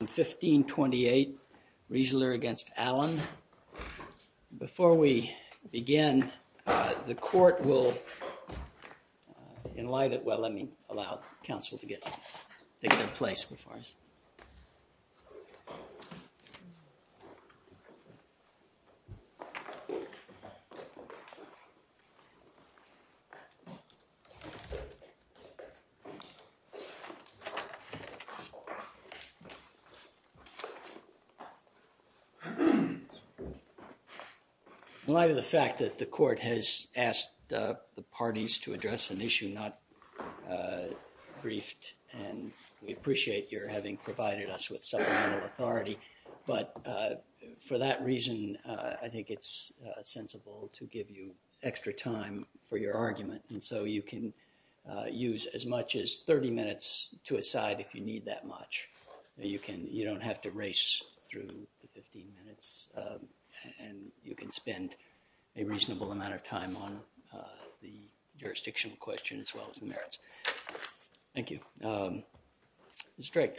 1528 Riezler v. Allen. Before we begin, the court will enlighten, well let me allow counsel to get to their place before us. In light of the fact that the court has asked the parties to address an issue not briefed and we appreciate your having provided us with supplemental authority but for that reason I think it's sensible to give you extra time for your argument and so you can use as much as 30 minutes to a side if you need that much. You can, you don't have to race through the 15 minutes and you can spend a reasonable amount of time on the jurisdictional question as well as the merits. Thank you. Um, Ms. Drake.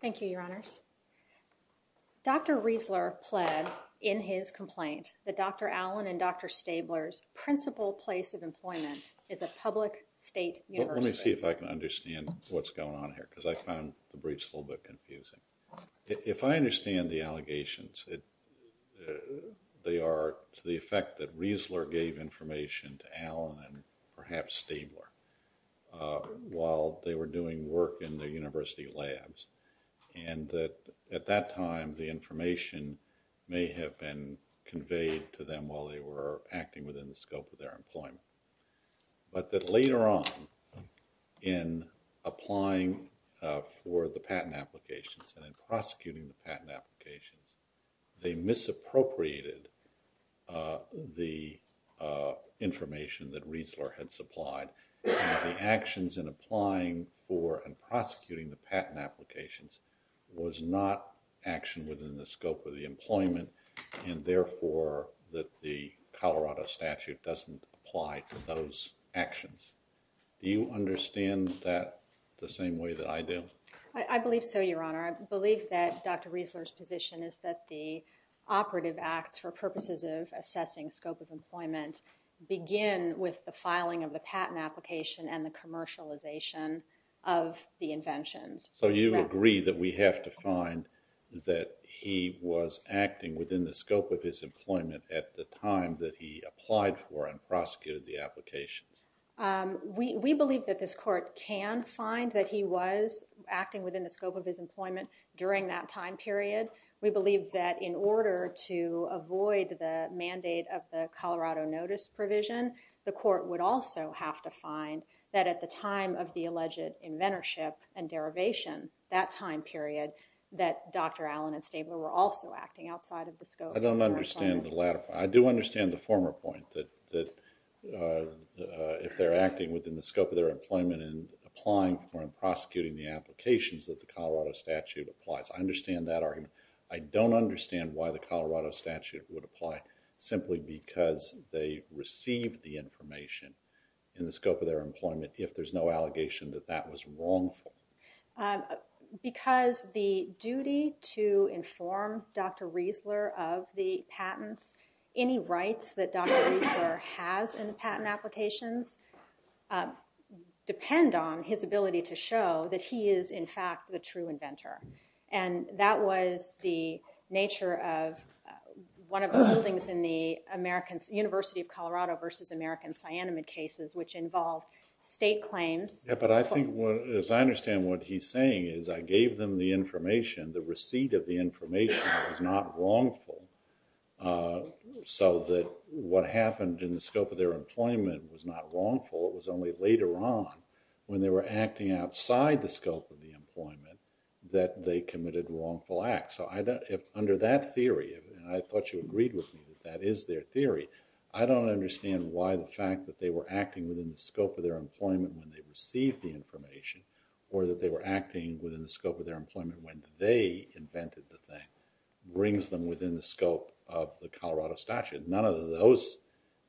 Thank you, your honors. Dr. Riezler pled in his complaint that Dr. Allen and Dr. Stabler's principal place of employment is a public state university. Let me see if I can understand what's going on here because I found the briefs a little bit confusing. If I understand the allegations, they are to the effect that Riezler gave information to Allen and perhaps Stabler while they were doing work in their university labs and that at that time the information may have been conveyed to them while they were acting within the scope of their employment but that later on in applying for the patent applications and in prosecuting the patent applications they misappropriated the information that Riezler had supplied and the actions in applying for and prosecuting the patent applications was not action within the scope of the employment and therefore that the Colorado statute doesn't apply to those actions. Do you understand that the same way that I do? I believe so, your honor. I believe that Dr. Riezler's position is that the operative acts for purposes of assessing scope of employment begin with the filing of the patent application and the commercialization of the inventions. So you agree that we have to find that he was acting within the scope of his employment at the time that he applied for and prosecuted the applications? We believe that this court can find that he was acting within the scope of his employment during that time period. We believe that in order to avoid the mandate of the court to find that at the time of the alleged inventorship and derivation, that time period, that Dr. Allen and Stabler were also acting outside of the scope of their employment. I don't understand the latter part. I do understand the former point that if they're acting within the scope of their employment and applying for and prosecuting the applications that the Colorado statute applies. I understand that argument. I don't understand why the Colorado statute would apply simply because they received the information in the scope of their employment if there's no allegation that that was wrongful. Because the duty to inform Dr. Riezler of the patents, any rights that Dr. Riezler has in the patent applications depend on his ability to show that he is in fact the true inventor. And that was the nature of one of the holdings in the University of Colorado v. American Cyanamid cases, which involved state claims. But I think, as I understand what he's saying, is I gave them the information. The receipt of the information was not wrongful. So that what happened in the scope of their employment was not wrongful. It was only later on when they were acting outside the scope of the employment that they committed wrongful acts. So under that theory, and I thought you agreed with me that that is their theory, I don't understand why the fact that they were acting within the scope of their employment when they received the information, or that they were acting within the scope of their employment when they invented the thing, brings them within the scope of the Colorado statute. None of those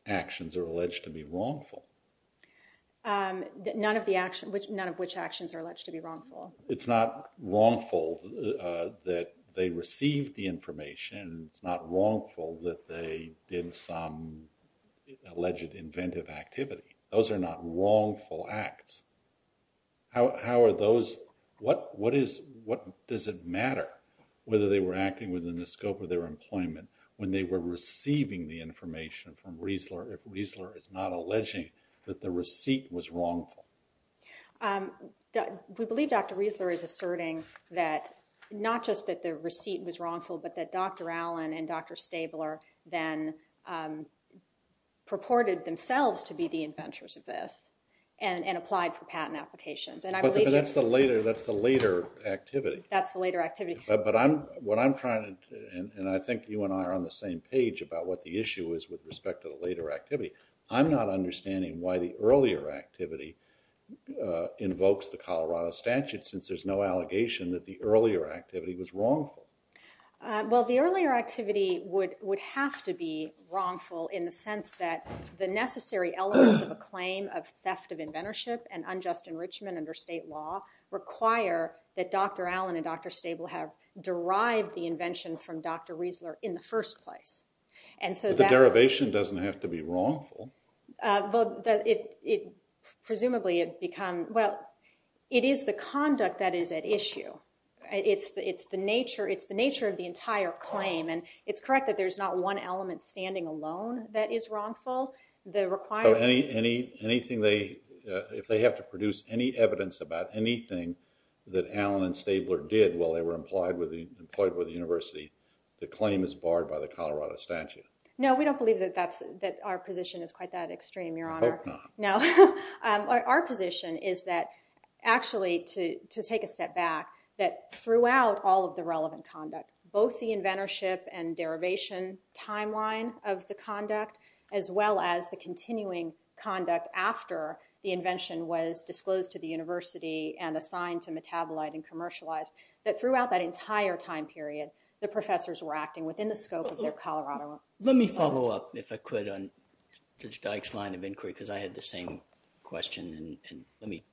actions are alleged to be wrongful. None of which actions are alleged to be wrongful. It's not wrongful that they received the information. It's not wrongful that they did some alleged inventive activity. Those are not wrongful acts. What does it matter whether they were acting within the scope of their employment when they were receiving the information from Riesler if Riesler is not alleging that the receipt was wrongful? We believe Dr. Riesler is asserting that not just that the receipt was wrongful, but that Dr. Allen and Dr. Stabler then purported themselves to be the inventors of this and applied for patent applications. But that's the later activity. That's the later activity. But what I'm trying to, and I think you and I are on the same page about what the issue is with respect to the later activity, I'm not understanding why the earlier activity invokes the Colorado statute since there's no allegation that the earlier activity was wrongful. Well, the earlier activity would have to be wrongful in the sense that the necessary elements of a claim of theft of inventorship and unjust enrichment under state law require that Dr. Allen and Dr. Stable have derived the invention from Dr. Riesler in the first place. But the derivation doesn't have to be wrongful. Presumably it becomes, well, it is the conduct that is at issue. It's the nature of the entire claim, and it's correct that there's not one element standing alone that is wrongful. So if they have to produce any evidence about anything that Allen and Stable did while they were employed with the university, the claim is barred by the Colorado statute? No, we don't believe that our position is quite that extreme, Your Honor. I hope not. No. Our position is that actually, to take a step back, that throughout all of the relevant conduct, both the inventorship and derivation timeline of the conduct, as well as the continuing conduct after the invention was disclosed to the university and assigned to metabolite and commercialized, that throughout that entire time period, the professors were acting within the scope of their Colorado. Let me follow up, if I could, on Judge Dyke's line of inquiry, because I had the same question, and let me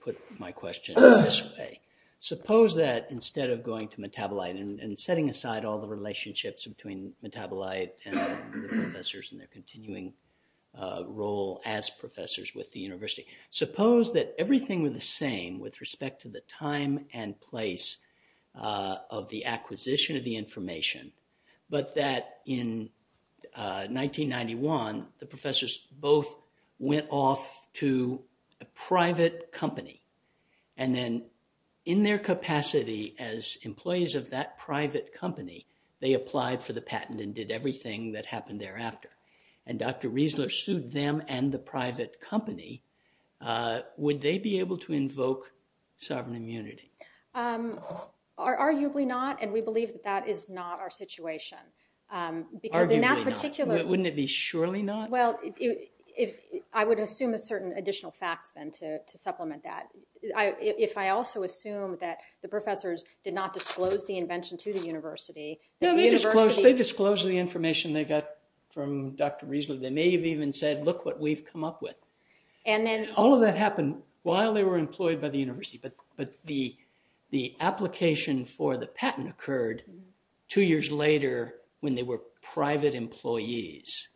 put my question this way. Suppose that instead of going to metabolite and setting aside all the relationships between metabolite and the professors and their continuing role as professors with the university, suppose that everything were the same with respect to the time and place of the acquisition of the information, but that in 1991, the professors both went off to a private company and then in their capacity as employees of that private company, they applied for the patent and did everything that happened thereafter. And Dr. Riesler sued them and the private company. Would they be able to invoke sovereign immunity? Arguably not, and we believe that that is not our situation. Arguably not. Because in that particular… Wouldn't it be surely not? Well, I would assume a certain additional facts then to supplement that. If I also assume that the professors did not disclose the invention to the university… No, they disclosed the information they got from Dr. Riesler. They may have even said, look what we've come up with. And then… All of that happened while they were employed by the university, but the application for the patent occurred two years later when they were private employees.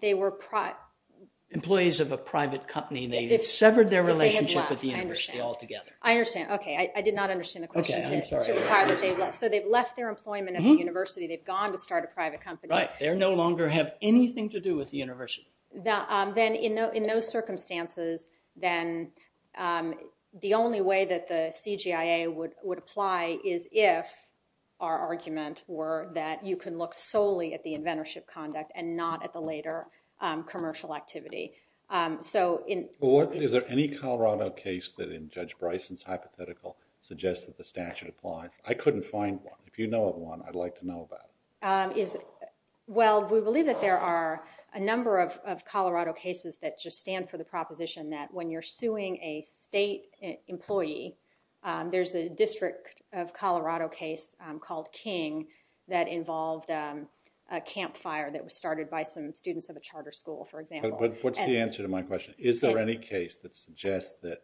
They were… Employees of a private company. It severed their relationship with the university altogether. I understand. Okay. I did not understand the question. Okay, I'm sorry. So they've left their employment at the university. They've gone to start a private company. Right. They no longer have anything to do with the university. Then in those circumstances, then the only way that the CGIA would apply is if our argument were that you can look solely at the inventorship conduct and not at the later commercial activity. So in… Is there any Colorado case that in Judge Bryson's hypothetical suggests that the statute applies? I couldn't find one. If you know of one, I'd like to know about it. Well, we believe that there are a number of Colorado cases that just stand for the proposition that when you're suing a state employee, there's a district of Colorado case called King that involved a campfire that was started by some students of a charter school, for example. But what's the answer to my question? Is there any case that suggests that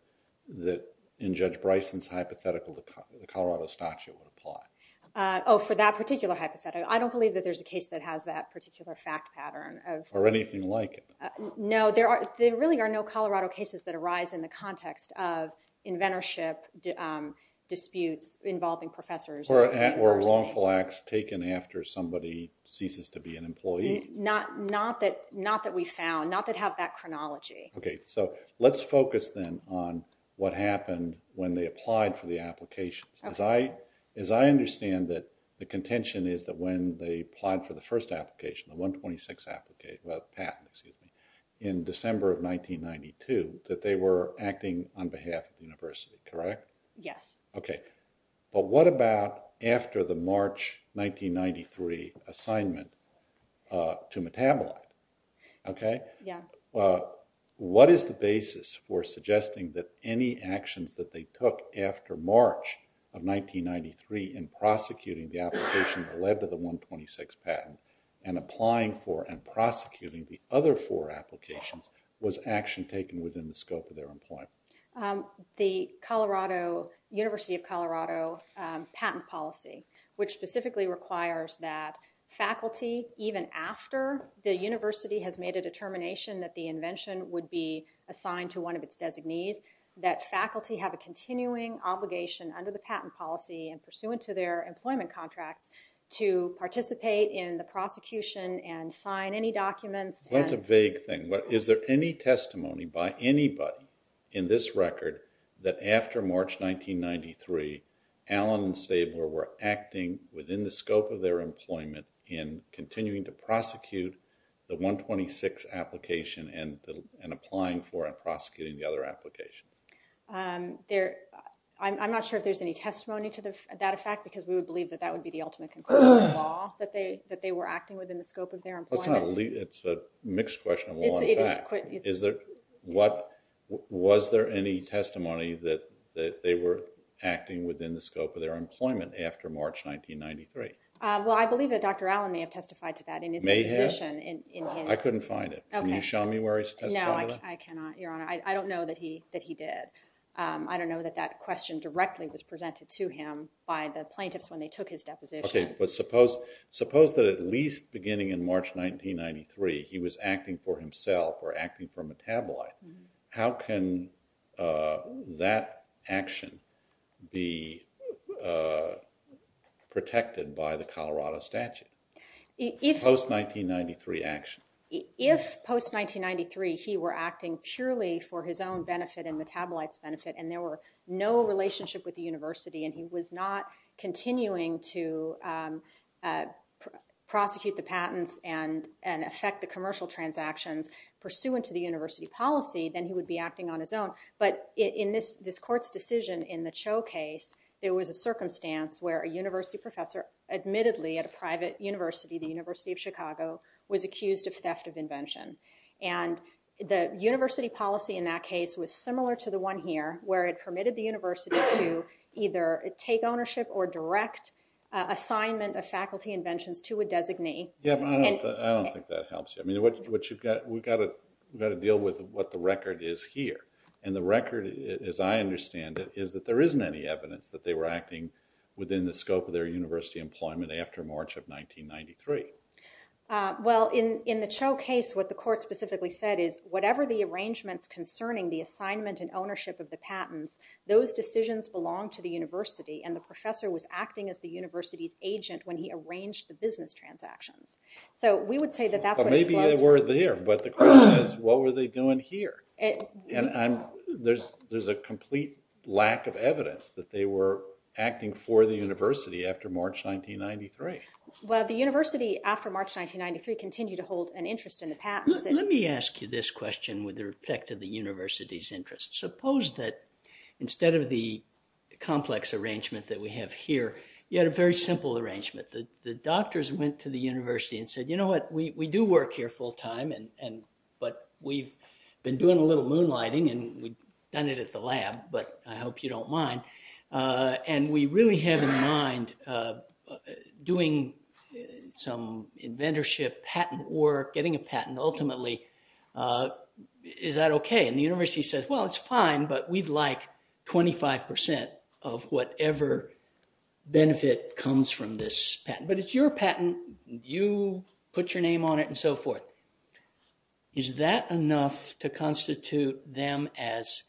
in Judge Bryson's hypothetical the Colorado statute would apply? Oh, for that particular hypothetical. I don't believe that there's a case that has that particular fact pattern. Or anything like it. No, there really are no Colorado cases that arise in the context of inventorship disputes involving professors or university. Or wrongful acts taken after somebody ceases to be an employee. Not that we found. Not that have that chronology. Okay, so let's focus then on what happened when they applied for the applications. Okay. As I understand it, the contention is that when they applied for the first application, the 126 patent, in December of 1992, that they were acting on behalf of the university, correct? Yes. Okay. But what about after the March 1993 assignment to metabolite? Okay. Yeah. So, what is the basis for suggesting that any actions that they took after March of 1993 in prosecuting the application that led to the 126 patent, and applying for and prosecuting the other four applications, was action taken within the scope of their employment? The University of Colorado patent policy, which specifically requires that faculty, even after the university has made a determination that the invention would be assigned to one of its designees, that faculty have a continuing obligation under the patent policy and pursuant to their employment contracts to participate in the prosecution and sign any documents. That's a vague thing. Is there any testimony by anybody in this record that after March 1993, Allen and Stabler were acting within the scope of their employment in continuing to prosecute the 126 application and applying for and prosecuting the other application? I'm not sure if there's any testimony to that effect, because we would believe that that would be the ultimate conclusion of the law, that they were acting within the scope of their employment. It's a mixed question of law and fact. Was there any testimony that they were acting within the scope of their employment after March 1993? Well, I believe that Dr. Allen may have testified to that in his deposition. May have? I couldn't find it. Can you show me where he testified to that? No, I cannot, Your Honor. I don't know that he did. I don't know that that question directly was presented to him by the plaintiffs when they took his deposition. Okay, but suppose that at least beginning in March 1993, he was acting for himself or acting for a metabolite. How can that action be protected by the Colorado statute, post-1993 action? If post-1993, he were acting purely for his own benefit and metabolites benefit and there were no relationship with the university and he was not continuing to prosecute the patents and affect the commercial transactions pursuant to the university policy, then he would be acting on his own. But in this court's decision in the Cho case, there was a circumstance where a university professor admittedly at a private university, the University of Chicago, was accused of theft of invention. And the university policy in that case was similar to the one here where it permitted the university to either take ownership or direct assignment of faculty inventions to a designee. Yeah, but I don't think that helps you. I mean, we've got to deal with what the record is here. And the record, as I understand it, is that there isn't any evidence that they were acting within the scope of their university employment after March of 1993. Well, in the Cho case, what the court specifically said is, whatever the arrangements concerning the assignment and ownership of the patents, those decisions belong to the university and the professor was acting as the university's agent when he arranged the business transactions. So we would say that that's what it was. But maybe they were there, but the question is, what were they doing here? And there's a complete lack of evidence that they were acting for the university after March 1993. Well, the university, after March 1993, continued to hold an interest in the patents. Let me ask you this question with respect to the university's interest. Suppose that instead of the complex arrangement that we have here, you had a very simple arrangement. The doctors went to the university and said, you know what, we do work here full time, but we've been doing a little moonlighting and we've done it at the lab, but I hope you don't mind. And we really have in mind doing some inventorship patent work, getting a patent, ultimately, is that OK? And the university says, well, it's fine, but we'd like 25% of whatever benefit comes from this patent. But it's your patent. You put your name on it and so forth. Is that enough to constitute them as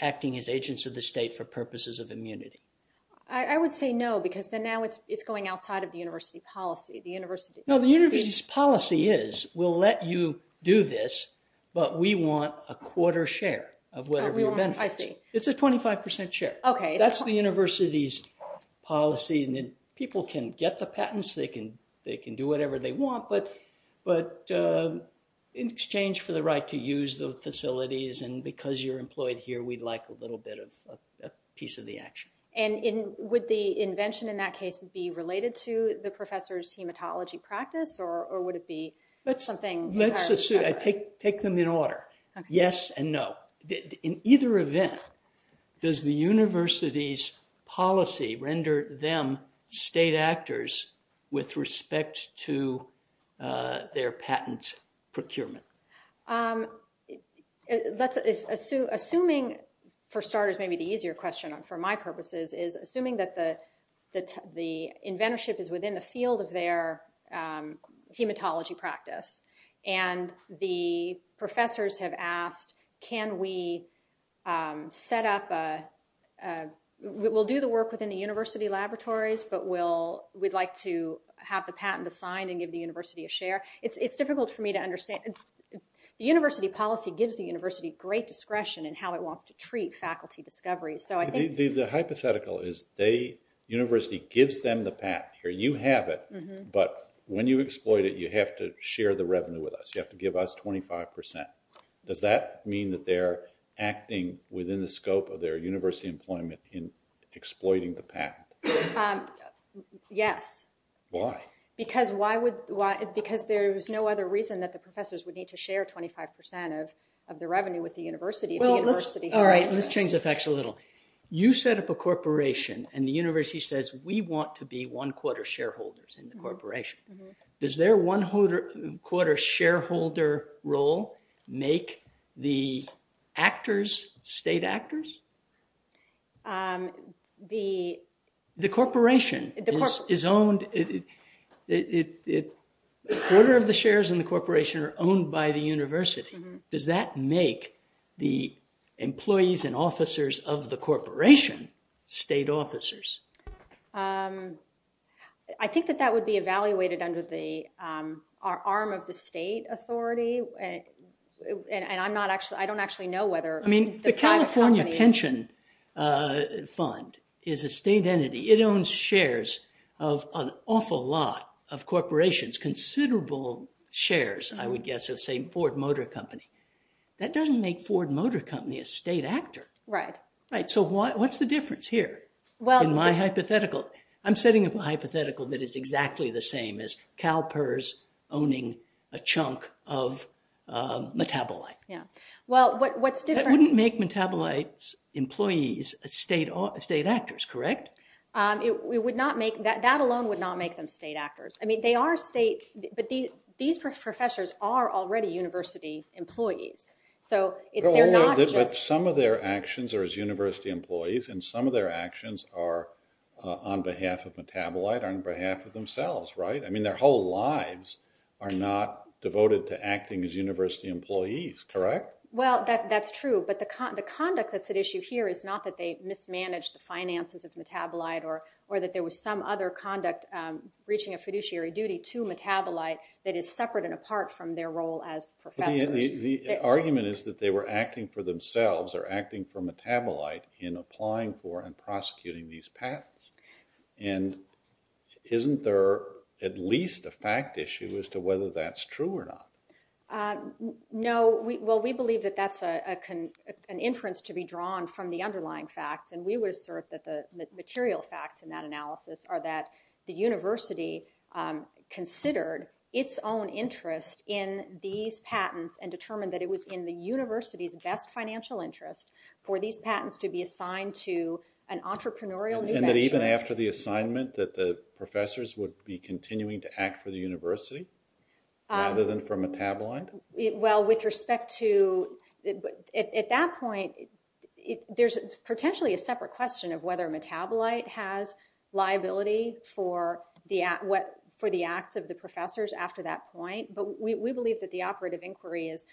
acting as agents of the state for purposes of immunity? I would say no, because then now it's going outside of the university policy. No, the university's policy is, we'll let you do this, but we want a quarter share of whatever your benefit is. It's a 25% share. OK. That's the university's policy. People can get the patents. They can do whatever they want, but in exchange for the right to use the facilities and because you're employed here, we'd like a little bit of a piece of the action. And would the invention in that case be related to the professor's hematology practice or would it be something entirely separate? Let's assume. Take them in order. Yes and no. In either event, does the university's policy render them state actors with respect to their patent procurement? Assuming, for starters, maybe the easier question for my purposes is, assuming that the inventorship is within the field of their hematology practice and the professors have asked, can we set up, we'll do the work within the university laboratories, but we'd like to have the patent assigned and give the university a share. It's difficult for me to understand. The university policy gives the university great discretion in how it wants to treat faculty discoveries. The hypothetical is the university gives them the patent. You have it, but when you exploit it, you have to share the revenue with us. You have to give us 25%. Does that mean that they're acting within the scope of their university employment in exploiting the patent? Yes. Why? Because there's no other reason that the professors would need to share 25% of the revenue with the university. All right, let's change the facts a little. You set up a corporation and the university says, we want to be one-quarter shareholders in the corporation. Does their one-quarter shareholder role make the actors state actors? The corporation is owned, a quarter of the shares in the corporation are owned by the university. Does that make the employees and officers of the corporation state officers? I think that that would be evaluated under the arm of the state authority. I don't actually know whether the private company... The California Pension Fund is a state entity. It owns shares of an awful lot of corporations, considerable shares, I would guess, of, say, Ford Motor Company. That doesn't make Ford Motor Company a state actor. Right. Right, so what's the difference here in my hypothetical? I'm setting up a hypothetical that is exactly the same as CalPERS owning a chunk of Metabolite. Yeah. Well, what's different... state actors, correct? That alone would not make them state actors. I mean, they are state, but these professors are already university employees. But some of their actions are as university employees and some of their actions are on behalf of Metabolite, on behalf of themselves, right? I mean, their whole lives are not devoted to acting as university employees, correct? Well, that's true. But the conduct that's at issue here is not that they mismanaged the finances of Metabolite or that there was some other conduct reaching a fiduciary duty to Metabolite that is separate and apart from their role as professors. The argument is that they were acting for themselves or acting for Metabolite in applying for and prosecuting these patents. And isn't there at least a fact issue as to whether that's true or not? No. Well, we believe that that's an inference to be drawn from the underlying facts. And we would assert that the material facts in that analysis are that the university considered its own interest in these patents and determined that it was in the university's best financial interest for these patents to be assigned to an entrepreneurial new venture. And that even after the assignment that the professors would be continuing to act for the university rather than for Metabolite? Well, with respect to – at that point, there's potentially a separate question of whether Metabolite has liability for the acts of the professors after that point. But we believe that the operative inquiry is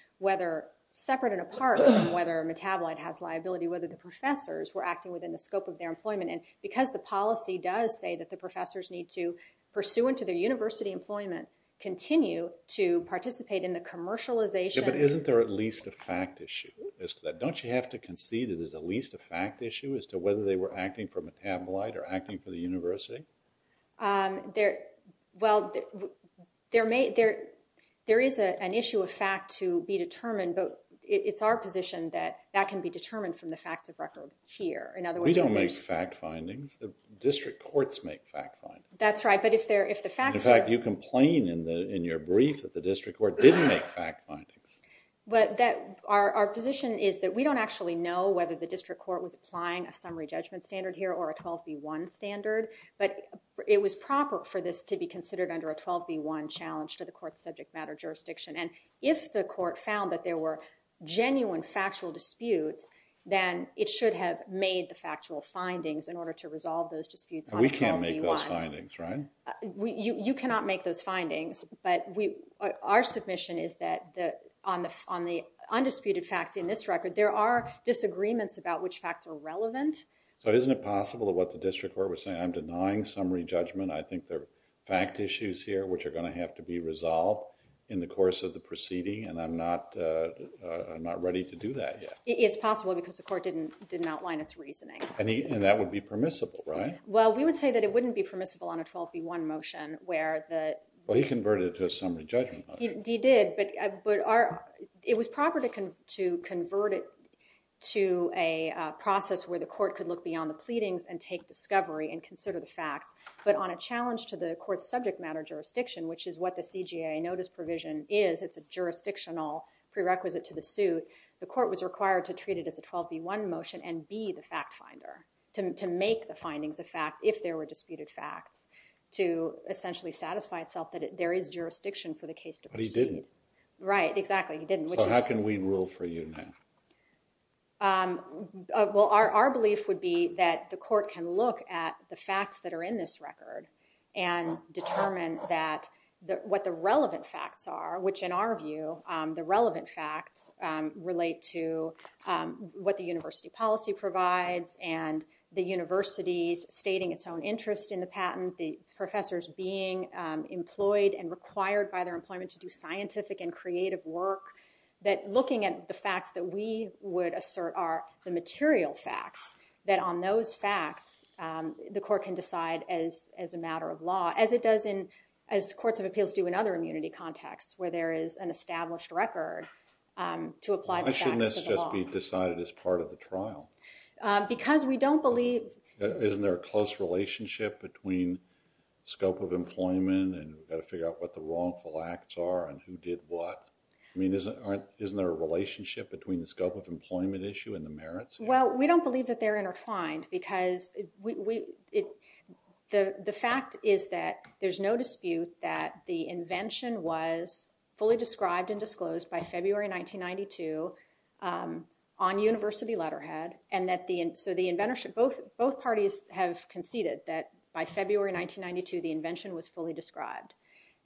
separate and apart from whether Metabolite has liability, whether the professors were acting within the scope of their employment. And because the policy does say that the professors need to, pursuant to their university employment, continue to participate in the commercialization – But isn't there at least a fact issue as to that? Don't you have to concede that there's at least a fact issue as to whether they were acting for Metabolite or acting for the university? Well, there is an issue of fact to be determined, but it's our position that that can be determined from the facts of record here. We don't make fact findings. The district courts make fact findings. That's right, but if the facts are – In fact, you complain in your brief that the district court didn't make fact findings. Our position is that we don't actually know whether the district court was applying a summary judgment standard here or a 12B1 standard, but it was proper for this to be considered under a 12B1 challenge to the court's subject matter jurisdiction. And if the court found that there were genuine factual disputes, then it should have made the factual findings in order to resolve those disputes on 12B1. We can't make those findings, right? You cannot make those findings, but our submission is that on the undisputed facts in this record, there are disagreements about which facts are relevant. So isn't it possible that what the district court was saying, I'm denying summary judgment, I think there are fact issues here which are going to have to be resolved in the course of the proceeding, and I'm not ready to do that yet. It's possible because the court didn't outline its reasoning. And that would be permissible, right? Well, we would say that it wouldn't be permissible on a 12B1 motion where the – Well, he converted it to a summary judgment motion. He did, but it was proper to convert it to a process where the court could look beyond the pleadings and take discovery and consider the facts, but on a challenge to the court's subject matter jurisdiction, which is what the CJA notice provision is, it's a jurisdictional prerequisite to the suit, the court was required to treat it as a 12B1 motion and be the fact finder, to make the findings a fact if there were disputed facts, to essentially satisfy itself that there is jurisdiction for the case to proceed. But he didn't. Right, exactly, he didn't. So how can we rule for you now? Well, our belief would be that the court can look at the facts that are in this record and determine what the relevant facts are, which in our view, the relevant facts relate to what the university policy provides and the university's stating its own interest in the patent, the professors being employed and required by their employment to do scientific and creative work, that looking at the facts that we would assert are the material facts, that on those facts the court can decide as a matter of law, as it does in, as courts of appeals do in other immunity contexts where there is an established record to apply the facts to the law. Why shouldn't this just be decided as part of the trial? Because we don't believe... Isn't there a close relationship between scope of employment and we've got to figure out what the wrongful acts are and who did what? I mean, isn't there a relationship between the scope of employment issue and the merits? Well, we don't believe that they're intertwined because we... The fact is that there's no dispute that the invention was fully described and disclosed by February 1992 on university letterhead and that the, so the inventorship, both parties have conceded that by February 1992 the invention was fully described.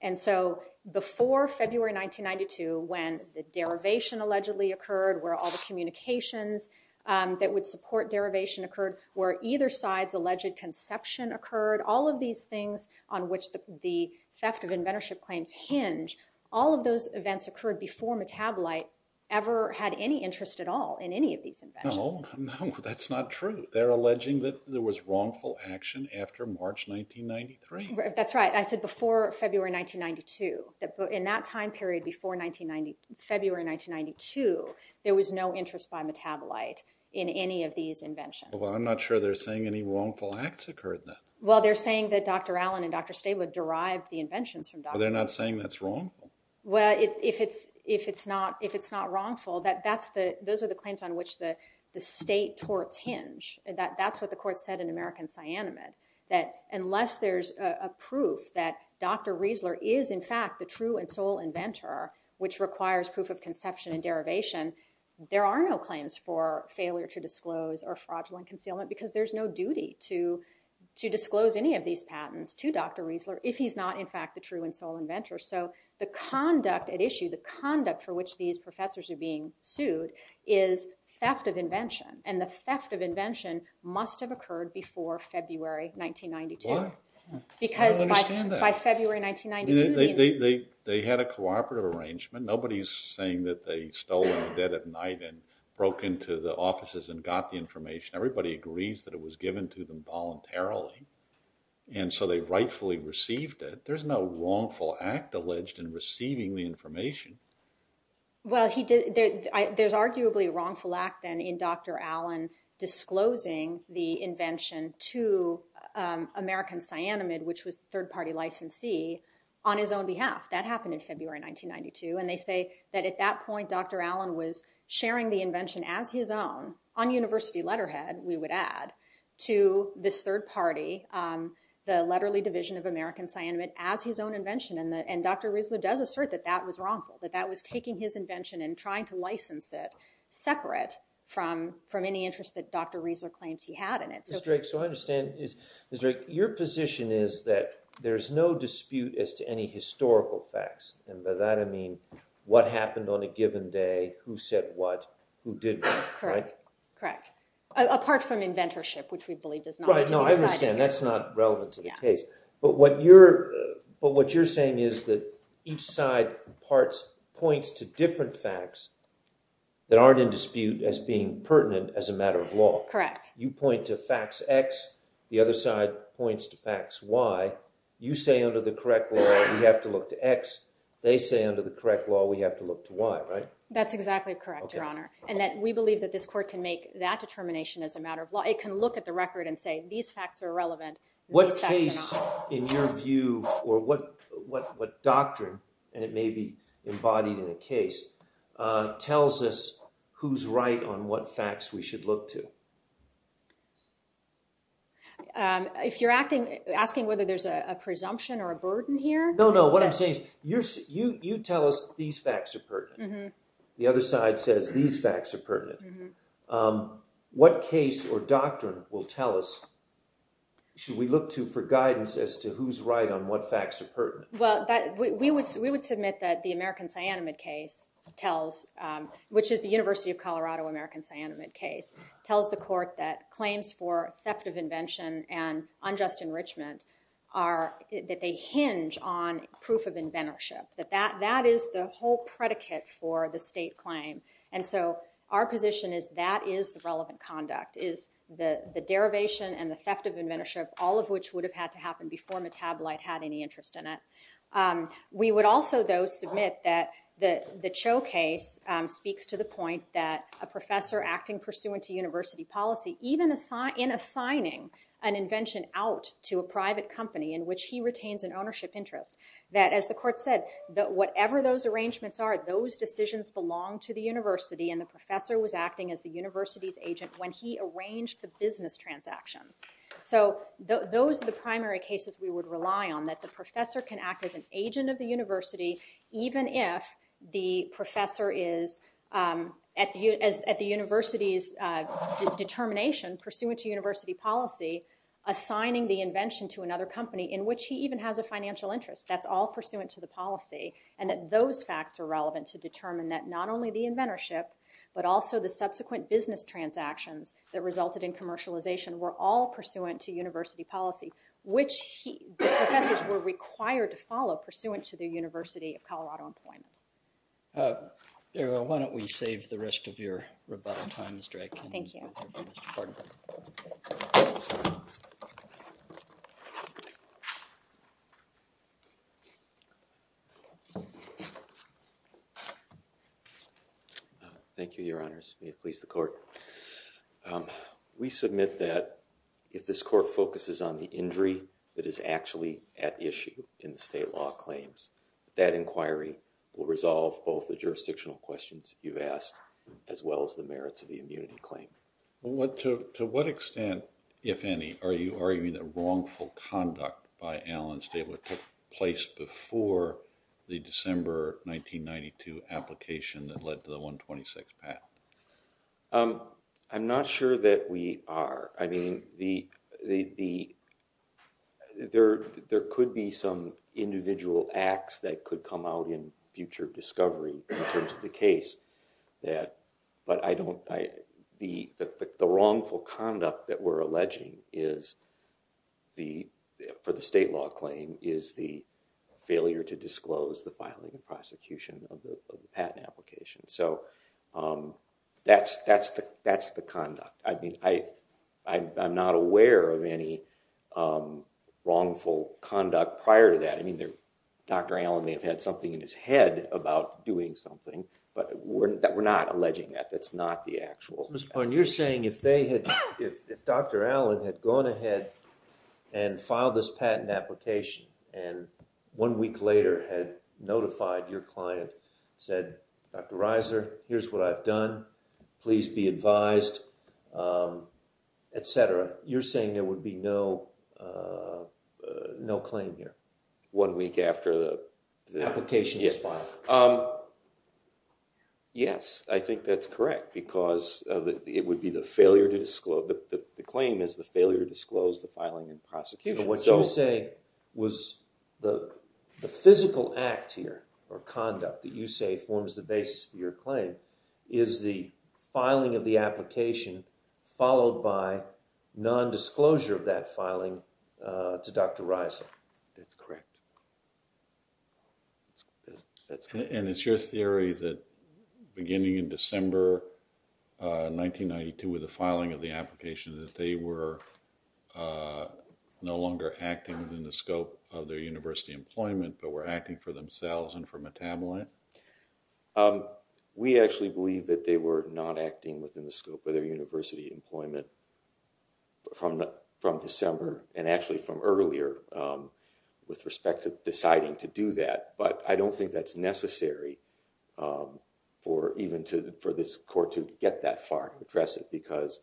And so before February 1992, when the derivation allegedly occurred, where all the communications that would support derivation occurred, where either side's alleged conception occurred, all of these things on which the theft of inventorship claims hinge, all of those events occurred before Metabolite ever had any interest at all in any of these inventions. No, no, that's not true. They're alleging that there was wrongful action after March 1993. That's right. I said before February 1992. In that time period before February 1992, there was no interest by Metabolite in any of these inventions. Well, I'm not sure they're saying any wrongful acts occurred then. Well, they're saying that Dr. Allen and Dr. Stabler derived the inventions from Dr. Allen. They're not saying that's wrong? Well, if it's not wrongful, those are the claims on which the state torts hinge. That's what the court said in American Cyanamid, that unless there's a proof that Dr. Riesler is, in fact, the true and sole inventor, which requires proof of conception and derivation, there are no claims for failure to disclose or fraudulent concealment because there's no duty to disclose any of these patents to Dr. Riesler if he's not, in fact, the true and sole inventor. So the conduct at issue, the conduct for which these professors are being sued, is theft of invention. And the theft of invention must have occurred before February 1992. Why? I don't understand that. Because by February 1992... They had a cooperative arrangement. Nobody's saying that they stole in the dead of night and broke into the offices and got the information. Everybody agrees that it was given to them voluntarily, and so they rightfully received it. There's no wrongful act alleged in receiving the information. Well, there's arguably a wrongful act, then, in Dr. Allen disclosing the invention to American Cyanamid, which was a third-party licensee, on his own behalf. That happened in February 1992, and they say that at that point, Dr. Allen was sharing the invention as his own, on university letterhead, we would add, to this third party, the letterly division of American Cyanamid, as his own invention. And Dr. Riesler does assert that that was wrongful, that that was taking his invention and trying to license it, separate from any interest that Dr. Riesler claims he had in it. Ms. Drake, so I understand... Ms. Drake, your position is that there's no dispute as to any historical facts. And by that, I mean what happened on a given day, who said what, who didn't. Correct. Correct. Apart from inventorship, which we believe does not need to be decided here. Right, no, I understand. That's not relevant to the case. But what you're saying is that each side points to different facts that aren't in dispute as being pertinent as a matter of law. Correct. You point to facts X, the other side points to facts Y. You say under the correct law, we have to look to X. They say under the correct law, we have to look to Y, right? That's exactly correct, Your Honor. And we believe that this court can make that determination as a matter of law. It can look at the record and say, these facts are relevant, these facts are not. What facts, in your view, or what doctrine, and it may be embodied in a case, tells us who's right on what facts we should look to? If you're asking whether there's a presumption or a burden here? No, no, what I'm saying is, you tell us these facts are pertinent. The other side says these facts are pertinent. What case or doctrine will tell us, should we look to for guidance as to who's right on what facts are pertinent? Well, we would submit that the American cyanamide case tells, which is the University of Colorado American cyanamide case, tells the court that claims for theft of invention and unjust enrichment are, that they hinge on proof of inventorship. That that is the whole predicate for the state claim. And so our position is that is the relevant conduct, is the derivation and the theft of inventorship, all of which would have had to happen before Metabolite had any interest in it. We would also, though, submit that the Cho case speaks to the point that a professor acting pursuant to university policy, even in assigning an invention out to a private company in which he retains an ownership interest, that as the court said, that whatever those arrangements are, those decisions belong to the university and the professor was acting as the university's agent when he arranged the business transactions. So those are the primary cases we would rely on, that the professor can act as an agent of the university, even if the professor is at the university's determination pursuant to university policy, assigning the invention to another company in which he even has a financial interest. That's all pursuant to the policy and that those facts are relevant to determine that not only the inventorship, but also the subsequent business transactions that resulted in commercialization were all pursuant to university policy, which professors were required to follow pursuant to the University of Colorado employment. Why don't we save the rest of your rebuttal time, Mr. Aiken. Thank you. Thank you, Your Honors. May it please the court. We submit that if this court focuses on the injury that is actually at issue in the state law claims, that inquiry will resolve both the jurisdictional questions you've asked, as well as the merits of the immunity claim. To what extent, if any, are you arguing that wrongful conduct by Allen State took place before the December 1992 application that led to the 126 patent? I'm not sure that we are. I mean, there could be some individual acts that could come out in future discovery in terms of the case, but the wrongful conduct that we're alleging for the state law claim is the failure to disclose the filing and prosecution of the patent application. So that's the conduct. I mean, I'm not aware of any wrongful conduct prior to that. I mean, Dr. Allen may have had something in his head about doing something, but we're not alleging that. That's not the actual. You're saying if they had, if Dr. Allen had gone ahead and filed this patent application and one week later had notified your client, said, Dr. Reiser, here's what I've done. Please be advised, et cetera. You're saying there would be no, no claim here. One week after the application was filed. Yes, I think that's correct because it would be the failure to disclose. The claim is the failure to disclose the filing and prosecution. What you say was the physical act here or conduct that you say forms the basis for your claim is the filing of the application followed by nondisclosure of that filing to Dr. Reiser. That's correct. And it's your theory that beginning in December 1992 with the filing of the application that they were no longer acting within the scope of their university employment, but were acting for themselves and for metabolite. We actually believe that they were not acting within the scope of their university employment from December and actually from earlier with respect to deciding to do that. But I don't think that's necessary for even to, for this court to get that far and address it because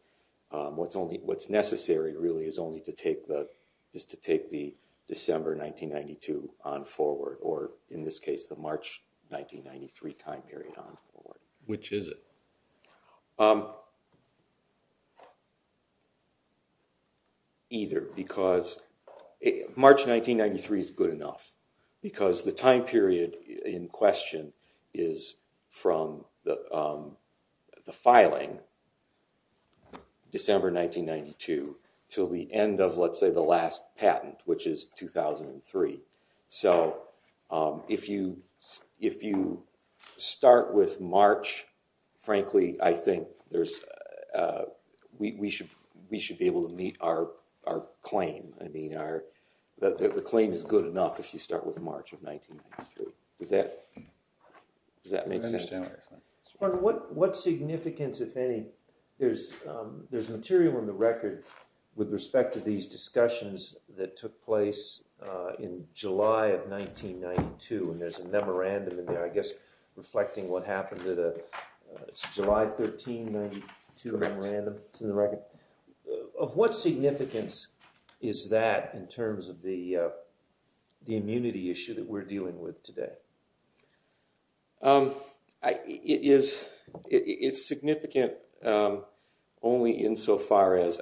what's only, what's necessary really is only to take the, is to take the December 1992 on forward or in this case the March 1993 time period on forward. Which is it? Either because March 1993 is good enough because the time period in question is from the filing December 1992 to the end of let's say the last patent which is 2003. So if you start with March, frankly I think there's, we should be able to meet our claim. I mean our, the claim is good enough if you start with March of 1993. Does that make sense? What significance, if any, there's material in the record with respect to these discussions that took place in July of 1992 and there's a memorandum in there I guess reflecting what happened to the July 13, 1992 memorandum in the record. Of what significance is that in terms of the immunity issue that we're dealing with today? It is, it's significant only in so far as,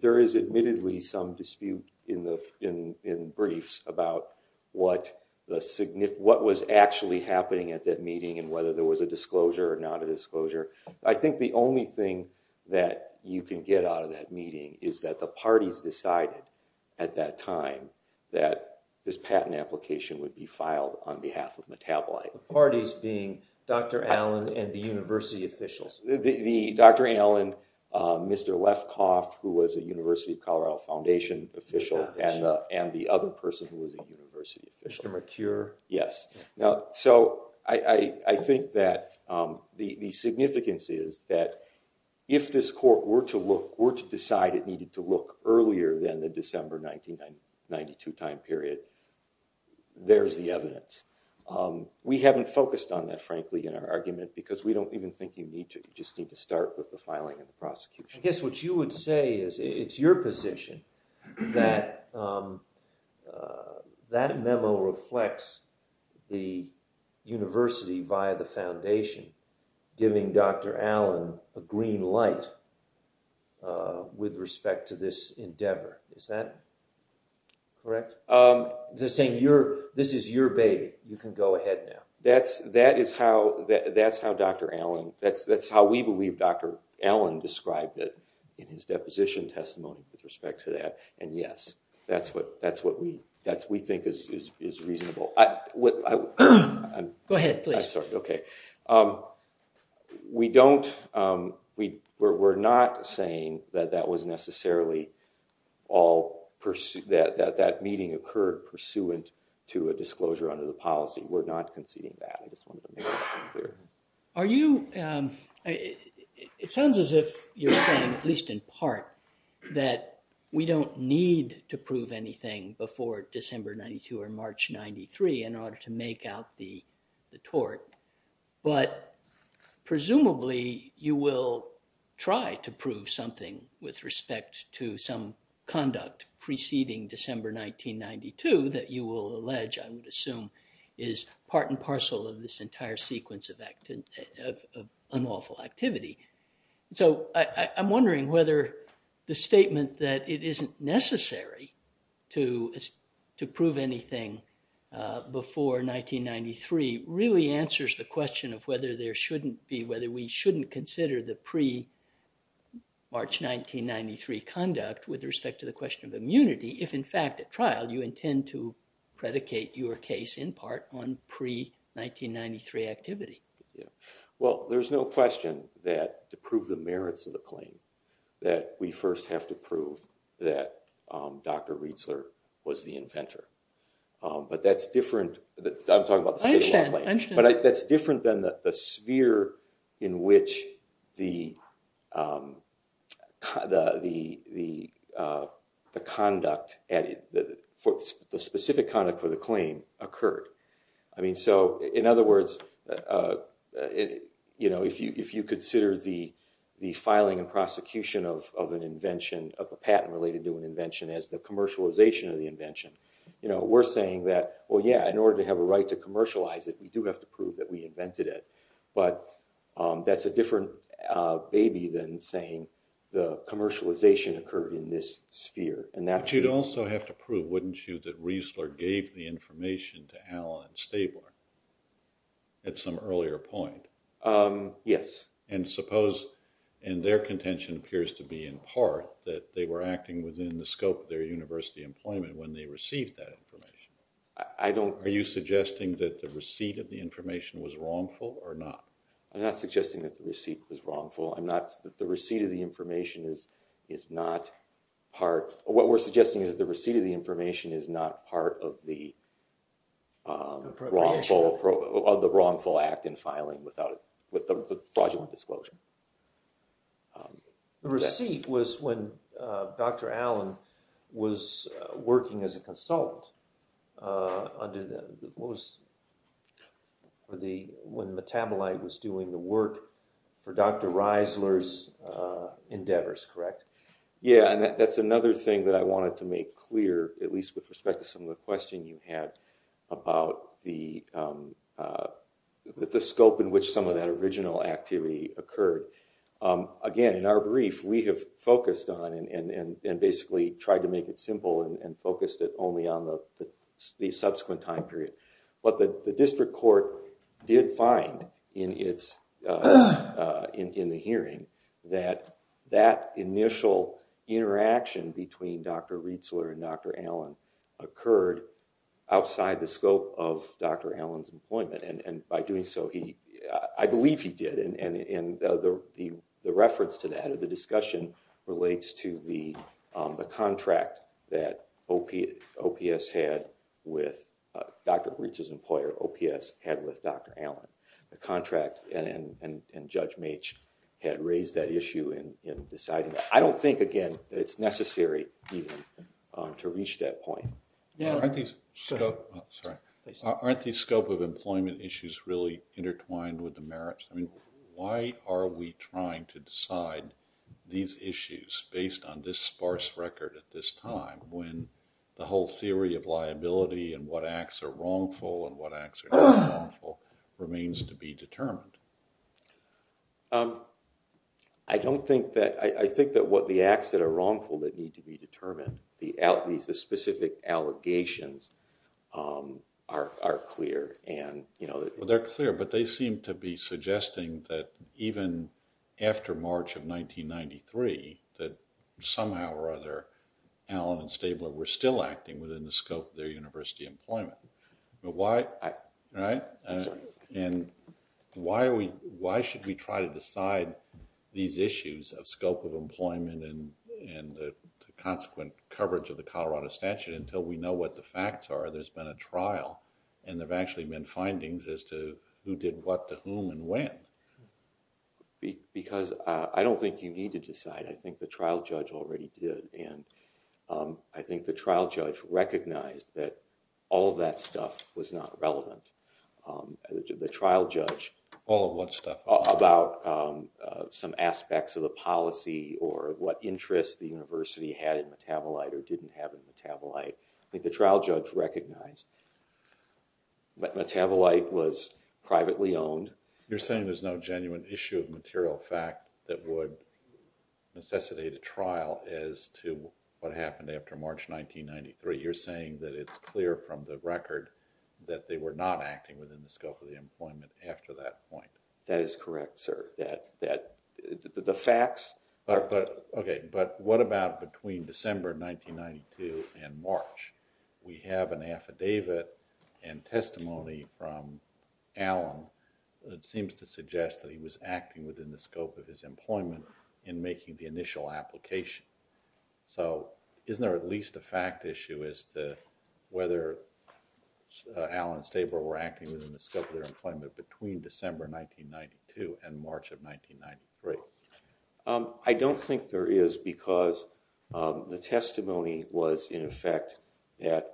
there is admittedly some dispute in briefs about what was actually happening at that meeting and whether there was a disclosure or not a disclosure. I think the only thing that you can get out of that meeting is that the parties decided at that time that this patent application would be filed on behalf of Metabolite. The parties being Dr. Allen and the university officials? Dr. Allen, Mr. Lefkoff who was a University of Colorado Foundation official and the other person who was a university official. Mr. Mature? Yes, so I think that the significance is that if this court were to look, were to decide it needed to look earlier than the December 1992 time period, there's the evidence. We haven't focused on that frankly in our argument because we don't even think you need to, you just need to start with the filing and the prosecution. I guess what you would say is it's your position that that memo reflects the university via the foundation giving Dr. Allen a green light with respect to this endeavor, is that correct? They're saying this is your baby, you can go ahead now. That's how Dr. Allen, that's how we believe Dr. Allen described it in his deposition testimony with respect to that and yes, that's what we think is reasonable. Go ahead, please. I'm sorry, okay. We don't, we're not saying that that was necessarily all, that that meeting occurred pursuant to a disclosure under the policy. We're not conceding that, I just wanted to make that clear. Are you, it sounds as if you're saying, at least in part, that we don't need to prove anything before December 92 or March 93 in order to make out the tort. But presumably you will try to prove something with respect to some conduct preceding December 1992 that you will allege, I would assume, is part and parcel of this entire sequence of unlawful activity. So I'm wondering whether the statement that it isn't necessary to prove anything before 1993 really answers the question of whether there shouldn't be, whether we shouldn't consider the pre-March 1993 conduct with respect to the question of immunity, if in fact at trial you intend to predicate your case in part on pre-1993 activity. Well, there's no question that to prove the merits of the claim that we first have to prove that Dr. Riesler was the inventor. But that's different, I'm talking about the statement of the claim. But that's different than the sphere in which the conduct, the specific conduct for the claim occurred. I mean, so in other words, if you consider the filing and prosecution of an invention, of a patent related to an invention as the commercialization of the invention, we're saying that, well, yeah, in order to have a right to commercialize it, we do have to prove that we invented it. But that's a different baby than saying the commercialization occurred in this sphere. But you'd also have to prove, wouldn't you, that Riesler gave the information to Allen and Stabler at some earlier point? Yes. And suppose, and their contention appears to be in part, that they were acting within the scope of their university employment when they received that information. I don't... Are you suggesting that the receipt of the information was wrongful or not? I'm not suggesting that the receipt was wrongful. I'm not... The receipt of the information is not part... What we're suggesting is the receipt of the information is not part of the wrongful act in filing with the fraudulent disclosure. The receipt was when Dr. Allen was working as a consultant under the, what was, when Metabolite was doing the work for Dr. Riesler's endeavors, correct? Yeah, and that's another thing that I wanted to make clear, at least with respect to some of the question you had about the scope in which some of that original activity occurred. Again, in our brief, we have focused on and basically tried to make it simple and focused it only on the subsequent time period. But the district court did find in the hearing that that initial interaction between Dr. Riesler and Dr. Allen occurred outside the scope of Dr. Allen's employment. And by doing so, I believe he did. And the reference to that in the discussion relates to the contract that OPS had with Dr. Breach's employer, OPS, had with Dr. Allen. The contract and Judge Mache had raised that issue in deciding that. I don't think, again, that it's necessary to reach that point. Aren't these scope of employment issues really intertwined with the merits? I mean, why are we trying to decide these issues based on this sparse record at this time when the whole theory of liability and what acts are wrongful and what acts are not wrongful remains to be determined? I don't think that, I think that what the acts that are wrongful that need to be determined, the specific allegations are clear. Well, they're clear, but they seem to be suggesting that even after March of 1993, that somehow or other, Allen and Stabler were still acting within the scope of their university employment. Right? And why should we try to decide these issues of scope of employment and the consequent coverage of the Colorado statute until we know what the facts are? There's been a trial, and there have actually been findings as to who did what to whom and when. Because I don't think you need to decide. I think the trial judge already did. I think the trial judge recognized that all of that stuff was not relevant. The trial judge. All of what stuff? About some aspects of the policy or what interest the university had in metabolite or didn't have in metabolite. I think the trial judge recognized that metabolite was privately owned. You're saying there's no genuine issue of material fact that would necessitate a trial as to what happened after March 1993. You're saying that it's clear from the record that they were not acting within the scope of the employment after that point. That is correct, sir. The facts are. Okay, but what about between December 1992 and March? We have an affidavit and testimony from Allen that seems to suggest that he was acting within the scope of his employment in making the initial application. So, isn't there at least a fact issue as to whether Allen and Staber were acting within the scope of their employment between December 1992 and March of 1993? I don't think there is because the testimony was in effect that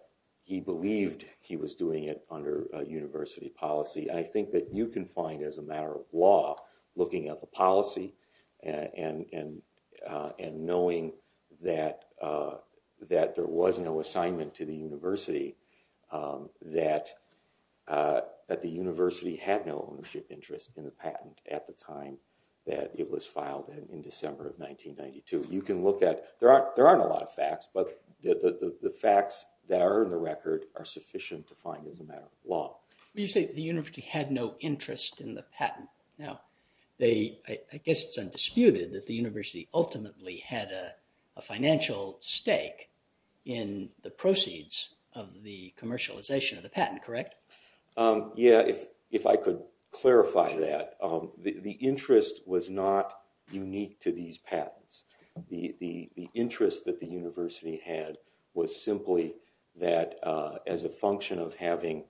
he believed he was doing it under university policy. I think that you can find as a matter of law, looking at the policy and knowing that there was no assignment to the university, that the university had no ownership interest in the patent at the time that it was filed in December of 1992. There aren't a lot of facts, but the facts that are in the record are sufficient to find as a matter of law. You say the university had no interest in the patent. Now, I guess it's undisputed that the university ultimately had a financial stake in the proceeds of the commercialization of the patent, correct? Yeah, if I could clarify that. The interest was not unique to these patents. The interest that the university had was simply that as a function of having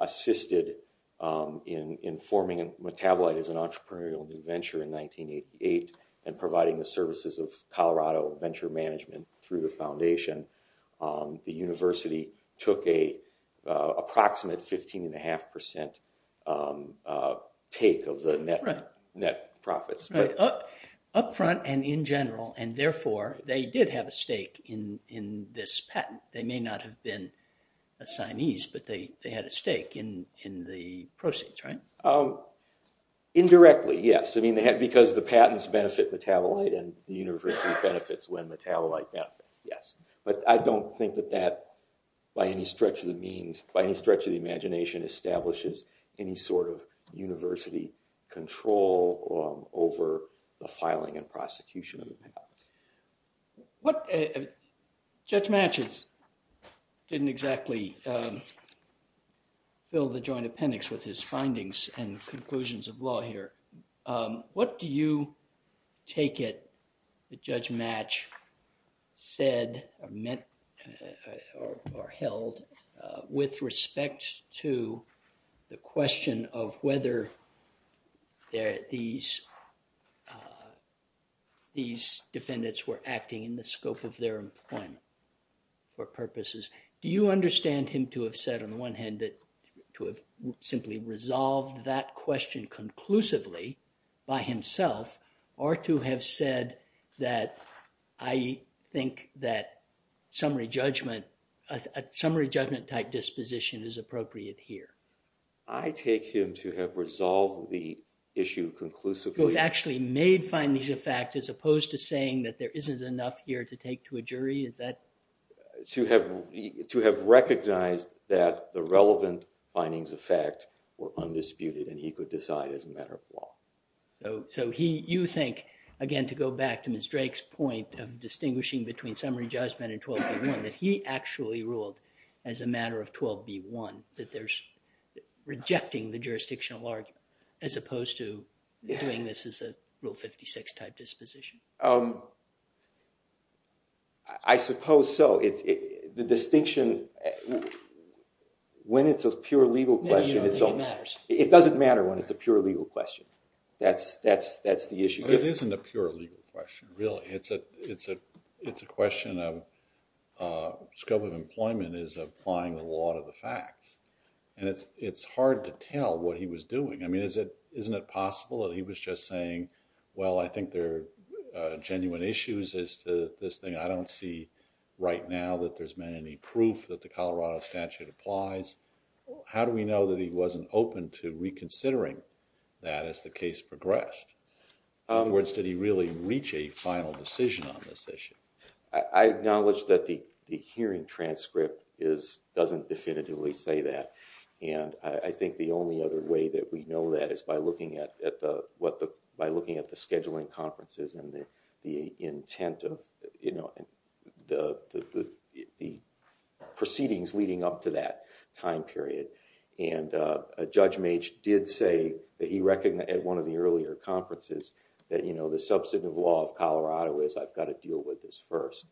assisted in forming Metabolite as an entrepreneurial new venture in 1988 and providing the services of Colorado venture management through the foundation, the university took an approximate 15.5% take of the net profits. Upfront and in general, and therefore, they did have a stake in this patent. They may not have been assignees, but they had a stake in the proceeds, right? Indirectly, yes. I mean, because the patents benefit Metabolite and the university benefits when Metabolite benefits, yes. But I don't think that that, by any stretch of the means, by any stretch of the imagination, establishes any sort of university control over the filing and prosecution of the patents. Judge Matches didn't exactly fill the joint appendix with his findings and conclusions of law here. What do you take it that Judge Match said or held with respect to the question of whether these defendants were acting in the scope of their employment or purposes? Do you understand him to have said, on the one hand, that to have simply resolved that question conclusively by himself, or to have said that I think that summary judgment type disposition is appropriate here? I take him to have resolved the issue conclusively. He actually made findings of fact as opposed to saying that there isn't enough here to take to a jury? To have recognized that the relevant findings of fact were undisputed and he could decide as a matter of law. So you think, again to go back to Ms. Drake's point of distinguishing between summary judgment and 12B1, that he actually ruled as a matter of 12B1 that there's rejecting the jurisdictional argument as opposed to doing this as a Rule 56 type disposition? I suppose so. The distinction, when it's a pure legal question, it doesn't matter when it's a pure legal question. That's the issue. But it isn't a pure legal question, really. It's a question of scope of employment is applying the law to the facts. And it's hard to tell what he was doing. I mean, isn't it possible that he was just saying, well, I think there are genuine issues as to this thing. I don't see right now that there's been any proof that the Colorado statute applies. How do we know that he wasn't open to reconsidering that as the case progressed? In other words, did he really reach a final decision on this issue? I acknowledge that the hearing transcript doesn't definitively say that. And I think the only other way that we know that is by looking at the scheduling conferences and the proceedings leading up to that time period. And Judge Mage did say at one of the earlier conferences that the substantive law of Colorado is, I've got to deal with this first.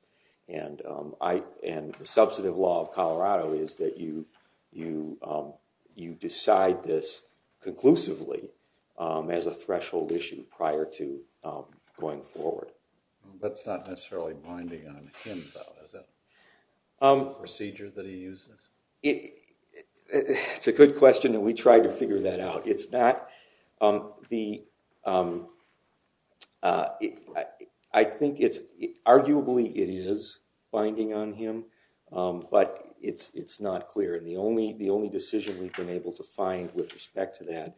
And the substantive law of Colorado is that you decide this conclusively as a threshold issue prior to going forward. That's not necessarily binding on him, though, is it? The procedure that he uses? It's a good question, and we tried to figure that out. I think arguably it is binding on him, but it's not clear. And the only decision we've been able to find with respect to that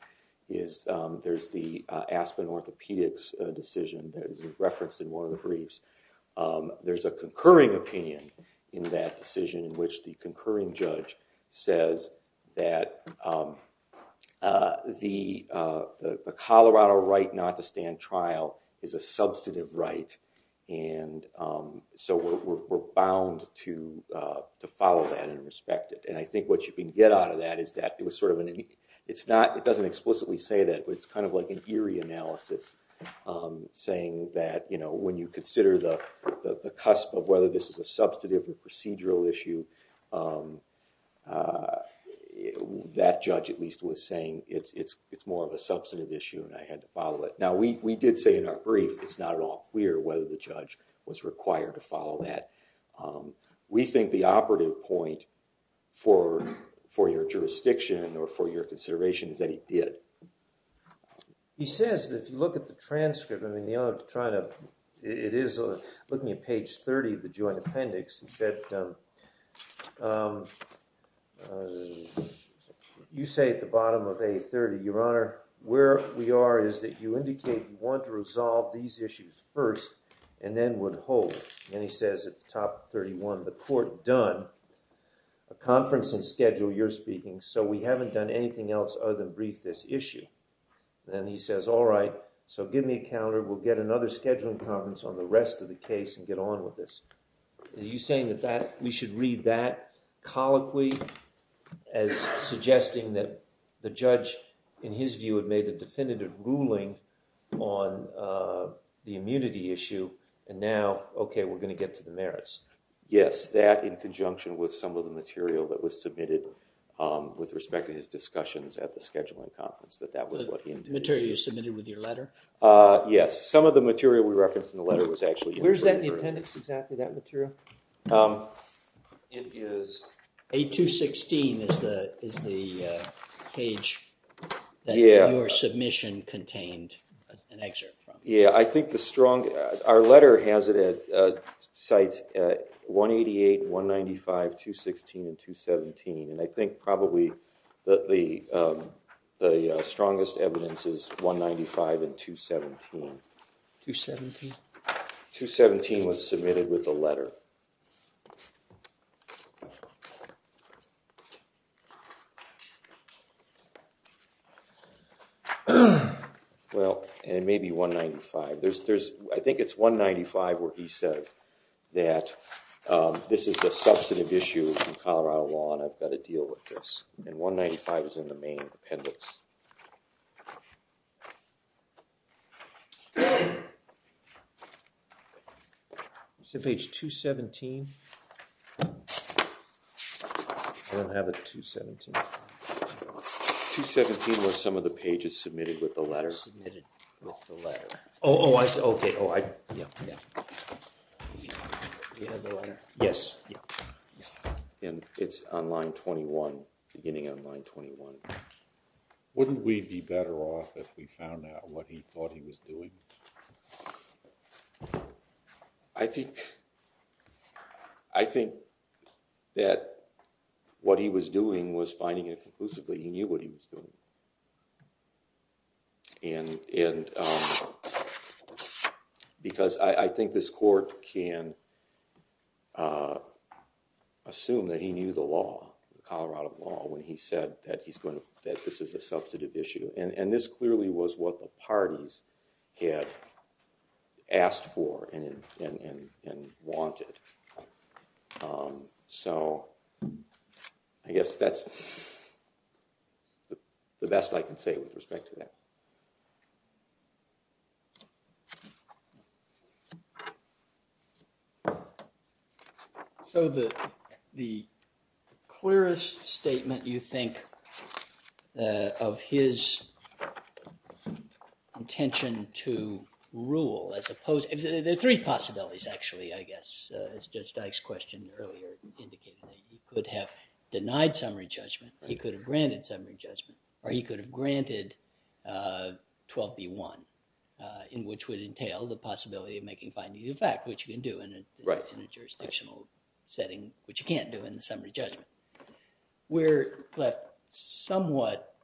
is there's the Aspen orthopedics decision that is referenced in one of the briefs. There's a concurring opinion in that decision in which the concurring judge says that the Colorado right not to stand trial is a substantive right. And so we're bound to follow that and respect it. And I think what you can get out of that is that it doesn't explicitly say that, but it's kind of like an eerie analysis saying that when you consider the cusp of whether this is a substantive or procedural issue, that judge at least was saying it's more of a substantive issue and I had to follow it. Now, we did say in our brief it's not at all clear whether the judge was required to follow that. We think the operative point for your jurisdiction or for your consideration is that he did. He says that if you look at the transcript, I mean, it is looking at page 30 of the joint appendix. He said, you say at the bottom of A30, Your Honor, where we are is that you indicate you want to resolve these issues first and then would hold. Then he says at the top of 31, the court done a conference and schedule, you're speaking, so we haven't done anything else other than brief this issue. Then he says, all right, so give me a calendar. We'll get another scheduling conference on the rest of the case and get on with this. Are you saying that we should read that colloquy as suggesting that the judge, in his view, had made a definitive ruling on the immunity issue and now, okay, we're going to get to the merits? Yes, that in conjunction with some of the material that was submitted with respect to his discussions at the scheduling conference, that that was what he indicated. The material you submitted with your letter? Yes, some of the material we referenced in the letter was actually in the jury. Where is that in the appendix exactly, that material? It is A216 is the page that your submission contained an excerpt from. Yeah, I think the strongest, our letter has it at, cites 188, 195, 216, and 217, and I think probably the strongest evidence is 195 and 217. 217? 217 was submitted with the letter. Well, and maybe 195. I think it's 195 where he says that this is a substantive issue in Colorado law and I've got to deal with this. And 195 is in the main appendix. Is it page 217? I don't have it at 217. 217 was some of the pages submitted with the letter. Submitted with the letter. Oh, oh, I see. Okay, oh, I, yeah, yeah. Do you have the letter? Yes. And it's on line 21, beginning on line 21. Wouldn't we be better off if we found out what he thought he was doing? I think, I think that what he was doing was finding it conclusively, he knew what he was doing. And, and, because I think this court can assume that he knew the law, Colorado law, when he said that he's going to, that this is a substantive issue. And this clearly was what the parties had asked for and wanted. So, I guess that's the best I can say with respect to that. So the, the clearest statement, you think, of his intention to rule as opposed, there are three possibilities, actually, I guess, as Judge Dyke's question earlier indicated, that he could have denied summary judgment, he could have granted summary judgment, or he could have granted, 12B1, in which would entail the possibility of making findings of fact, which you can do in a, in a jurisdictional setting, which you can't do in the summary judgment. We're left somewhat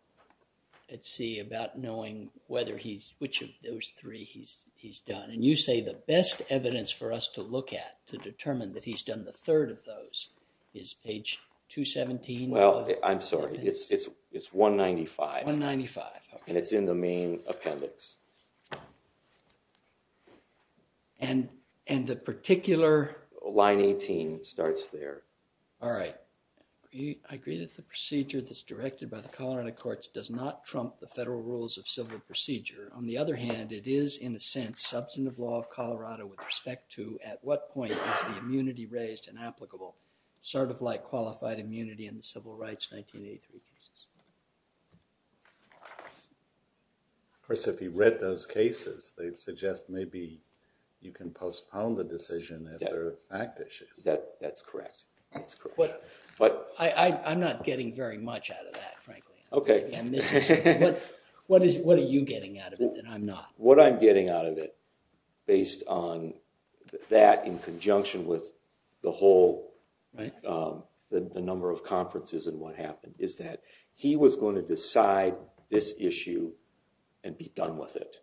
at sea about knowing whether he's, which of those three he's, he's done. And you say the best evidence for us to look at to determine that he's done the third of those is page 217. Well, I'm sorry, it's, it's, it's 195. 195. And it's in the main appendix. And, and the particular. Line 18 starts there. All right. I agree that the procedure that's directed by the Colorado Courts does not trump the federal rules of civil procedure. On the other hand, it is, in a sense, substantive law of Colorado with respect to at what point is the immunity raised and applicable, sort of like qualified immunity in the Civil Rights 1983 cases. Of course, if you read those cases, they'd suggest maybe you can postpone the decision if there are fact issues. That, that's correct. I'm not getting very much out of that, frankly. Okay. What is, what are you getting out of it and I'm not? What I'm getting out of it, based on that in conjunction with the whole. Right. The number of conferences and what happened is that he was going to decide this issue and be done with it.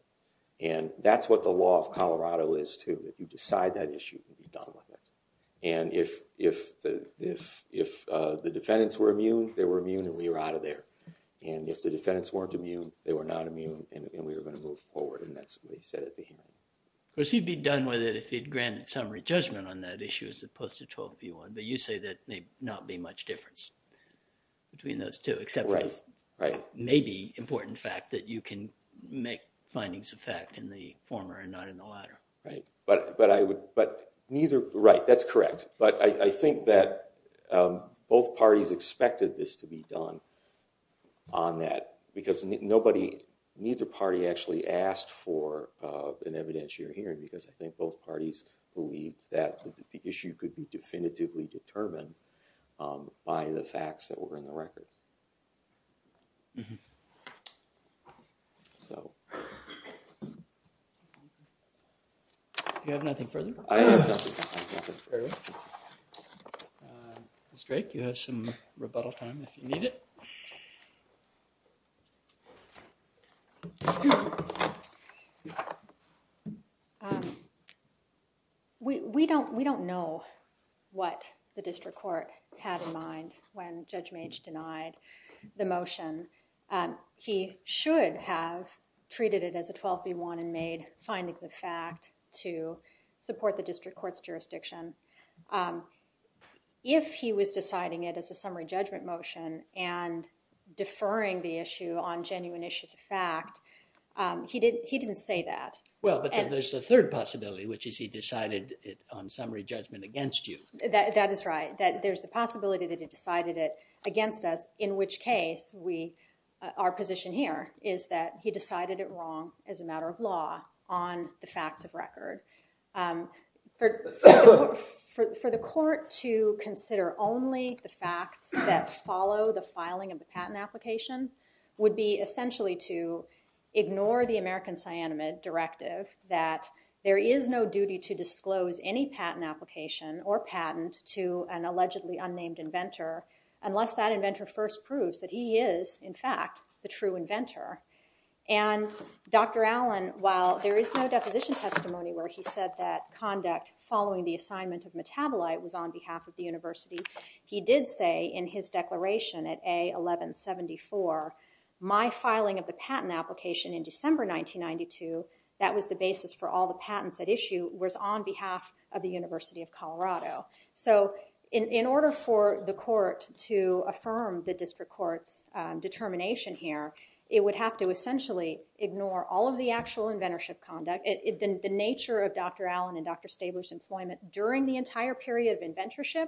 And that's what the law of Colorado is too, that you decide that issue and be done with it. And if, if, if, if the defendants were immune, they were immune and we were out of there. And if the defendants weren't immune, they were not immune and we were going to move forward. And that's what they said at the hearing. Of course, he'd be done with it if he'd granted summary judgment on that issue as opposed to 12B1. But you say that may not be much difference between those two. Right. Maybe important fact that you can make findings of fact in the former and not in the latter. Right. But, but I would, but neither, right, that's correct. But I think that both parties expected this to be done on that because nobody, neither party actually asked for an evidentiary hearing because I think both parties believe that the issue could be definitively determined by the facts that were in the record. Mm-hmm. So, you have nothing further? I have nothing further. Ms. Drake, you have some rebuttal time if you need it. We don't, we don't know what the district court had in mind when Judge Mage denied the motion. He should have treated it as a 12B1 and made findings of fact to support the district court's jurisdiction. If he was deciding it as a summary judgment motion and deferring the issue on genuine issues of fact, he didn't say that. Well, but there's a third possibility, which is he decided it on summary judgment against you. That is right. That there's a possibility that he decided it against us, in which case we, our position here is that he decided it wrong as a matter of law on the facts of record. For the court to consider only the facts that follow the filing of the patent application would be essentially to ignore the American cyanamide directive that there is no duty to disclose any patent application or patent to an allegedly unnamed inventor unless that inventor first proves that he is, in fact, the true inventor. And Dr. Allen, while there is no deposition testimony where he said that conduct following the assignment of metabolite was on behalf of the university, he did say in his declaration at A1174, my filing of the patent application in December 1992, that was the basis for all the patents at issue, was on behalf of the University of Colorado. So in order for the court to affirm the district court's determination here, it would have to essentially ignore all of the actual inventorship conduct, the nature of Dr. Allen and Dr. Stabler's employment during the entire period of inventorship,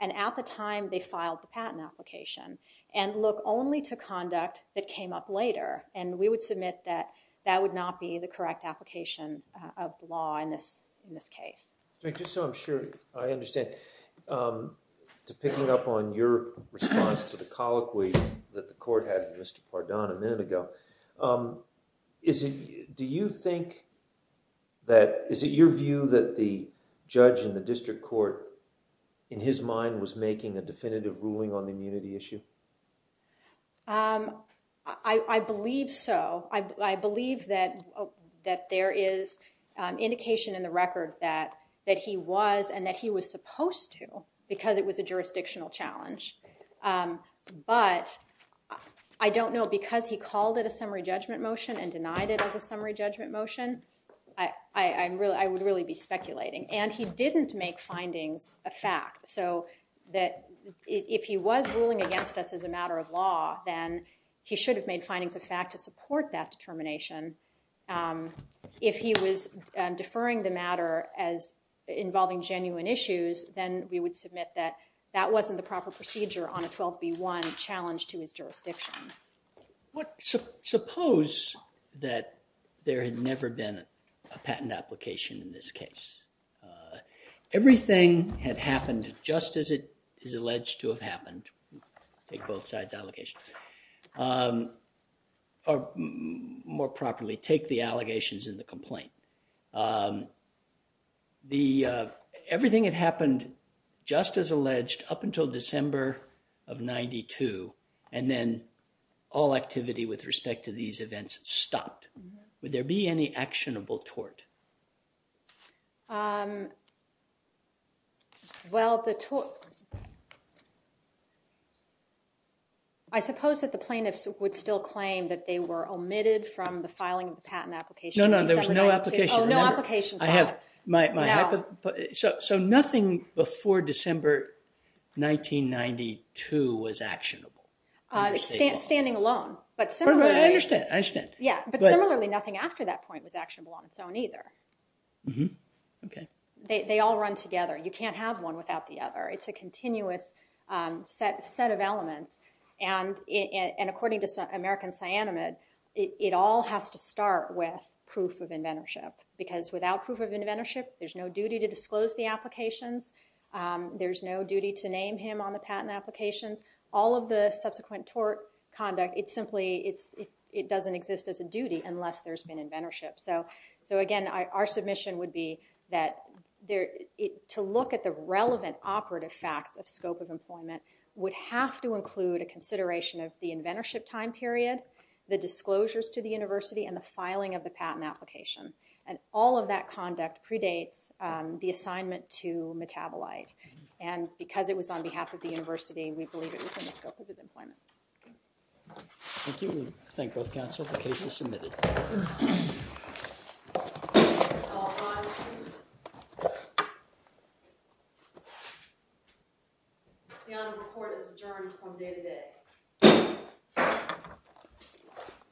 and at the time they filed the patent application, and look only to conduct that came up later. And we would submit that that would not be the correct application of law in this case. Just so I'm sure I understand, to picking up on your response to the colloquy that the court had with Mr. Pardon a minute ago, is it your view that the judge in the district court, in his mind, was making a definitive ruling on the immunity issue? I believe so. I believe that there is indication in the record that he was and that he was supposed to because it was a jurisdictional challenge. But I don't know, because he called it a summary judgment motion and denied it as a summary judgment motion, I would really be speculating. And he didn't make findings a fact, so that if he was ruling against us as a matter of law, then he should have made findings a fact to support that determination. If he was deferring the matter as involving genuine issues, then we would submit that that wasn't the proper procedure on a 12B1 challenge to his jurisdiction. Suppose that there had never been a patent application in this case. Everything had happened just as it is alleged to have happened. Take both sides' allegations. Or, more properly, take the allegations in the complaint. Everything had happened just as alleged up until December of 92, and then all activity with respect to these events stopped. Would there be any actionable tort? I suppose that the plaintiffs would still claim that they were omitted from the filing of the patent application. No, no, there was no application. So nothing before December 1992 was actionable? Standing alone. I understand. But similarly, nothing after that point was actionable on its own either. Mm-hmm. Okay. They all run together. You can't have one without the other. It's a continuous set of elements. And according to American Cyanamid, it all has to start with proof of inventorship. Because without proof of inventorship, there's no duty to disclose the applications. There's no duty to name him on the patent applications. All of the subsequent tort conduct, it simply doesn't exist as a duty unless there's been inventorship. So again, our submission would be that to look at the relevant operative facts of scope of employment would have to include a consideration of the inventorship time period, the disclosures to the university, and the filing of the patent application. And all of that conduct predates the assignment to Metabolite. And because it was on behalf of the university, we believe it was in the scope of his employment. Thank you. I thank both counsel. The case is submitted. The honor report is adjourned from day to day.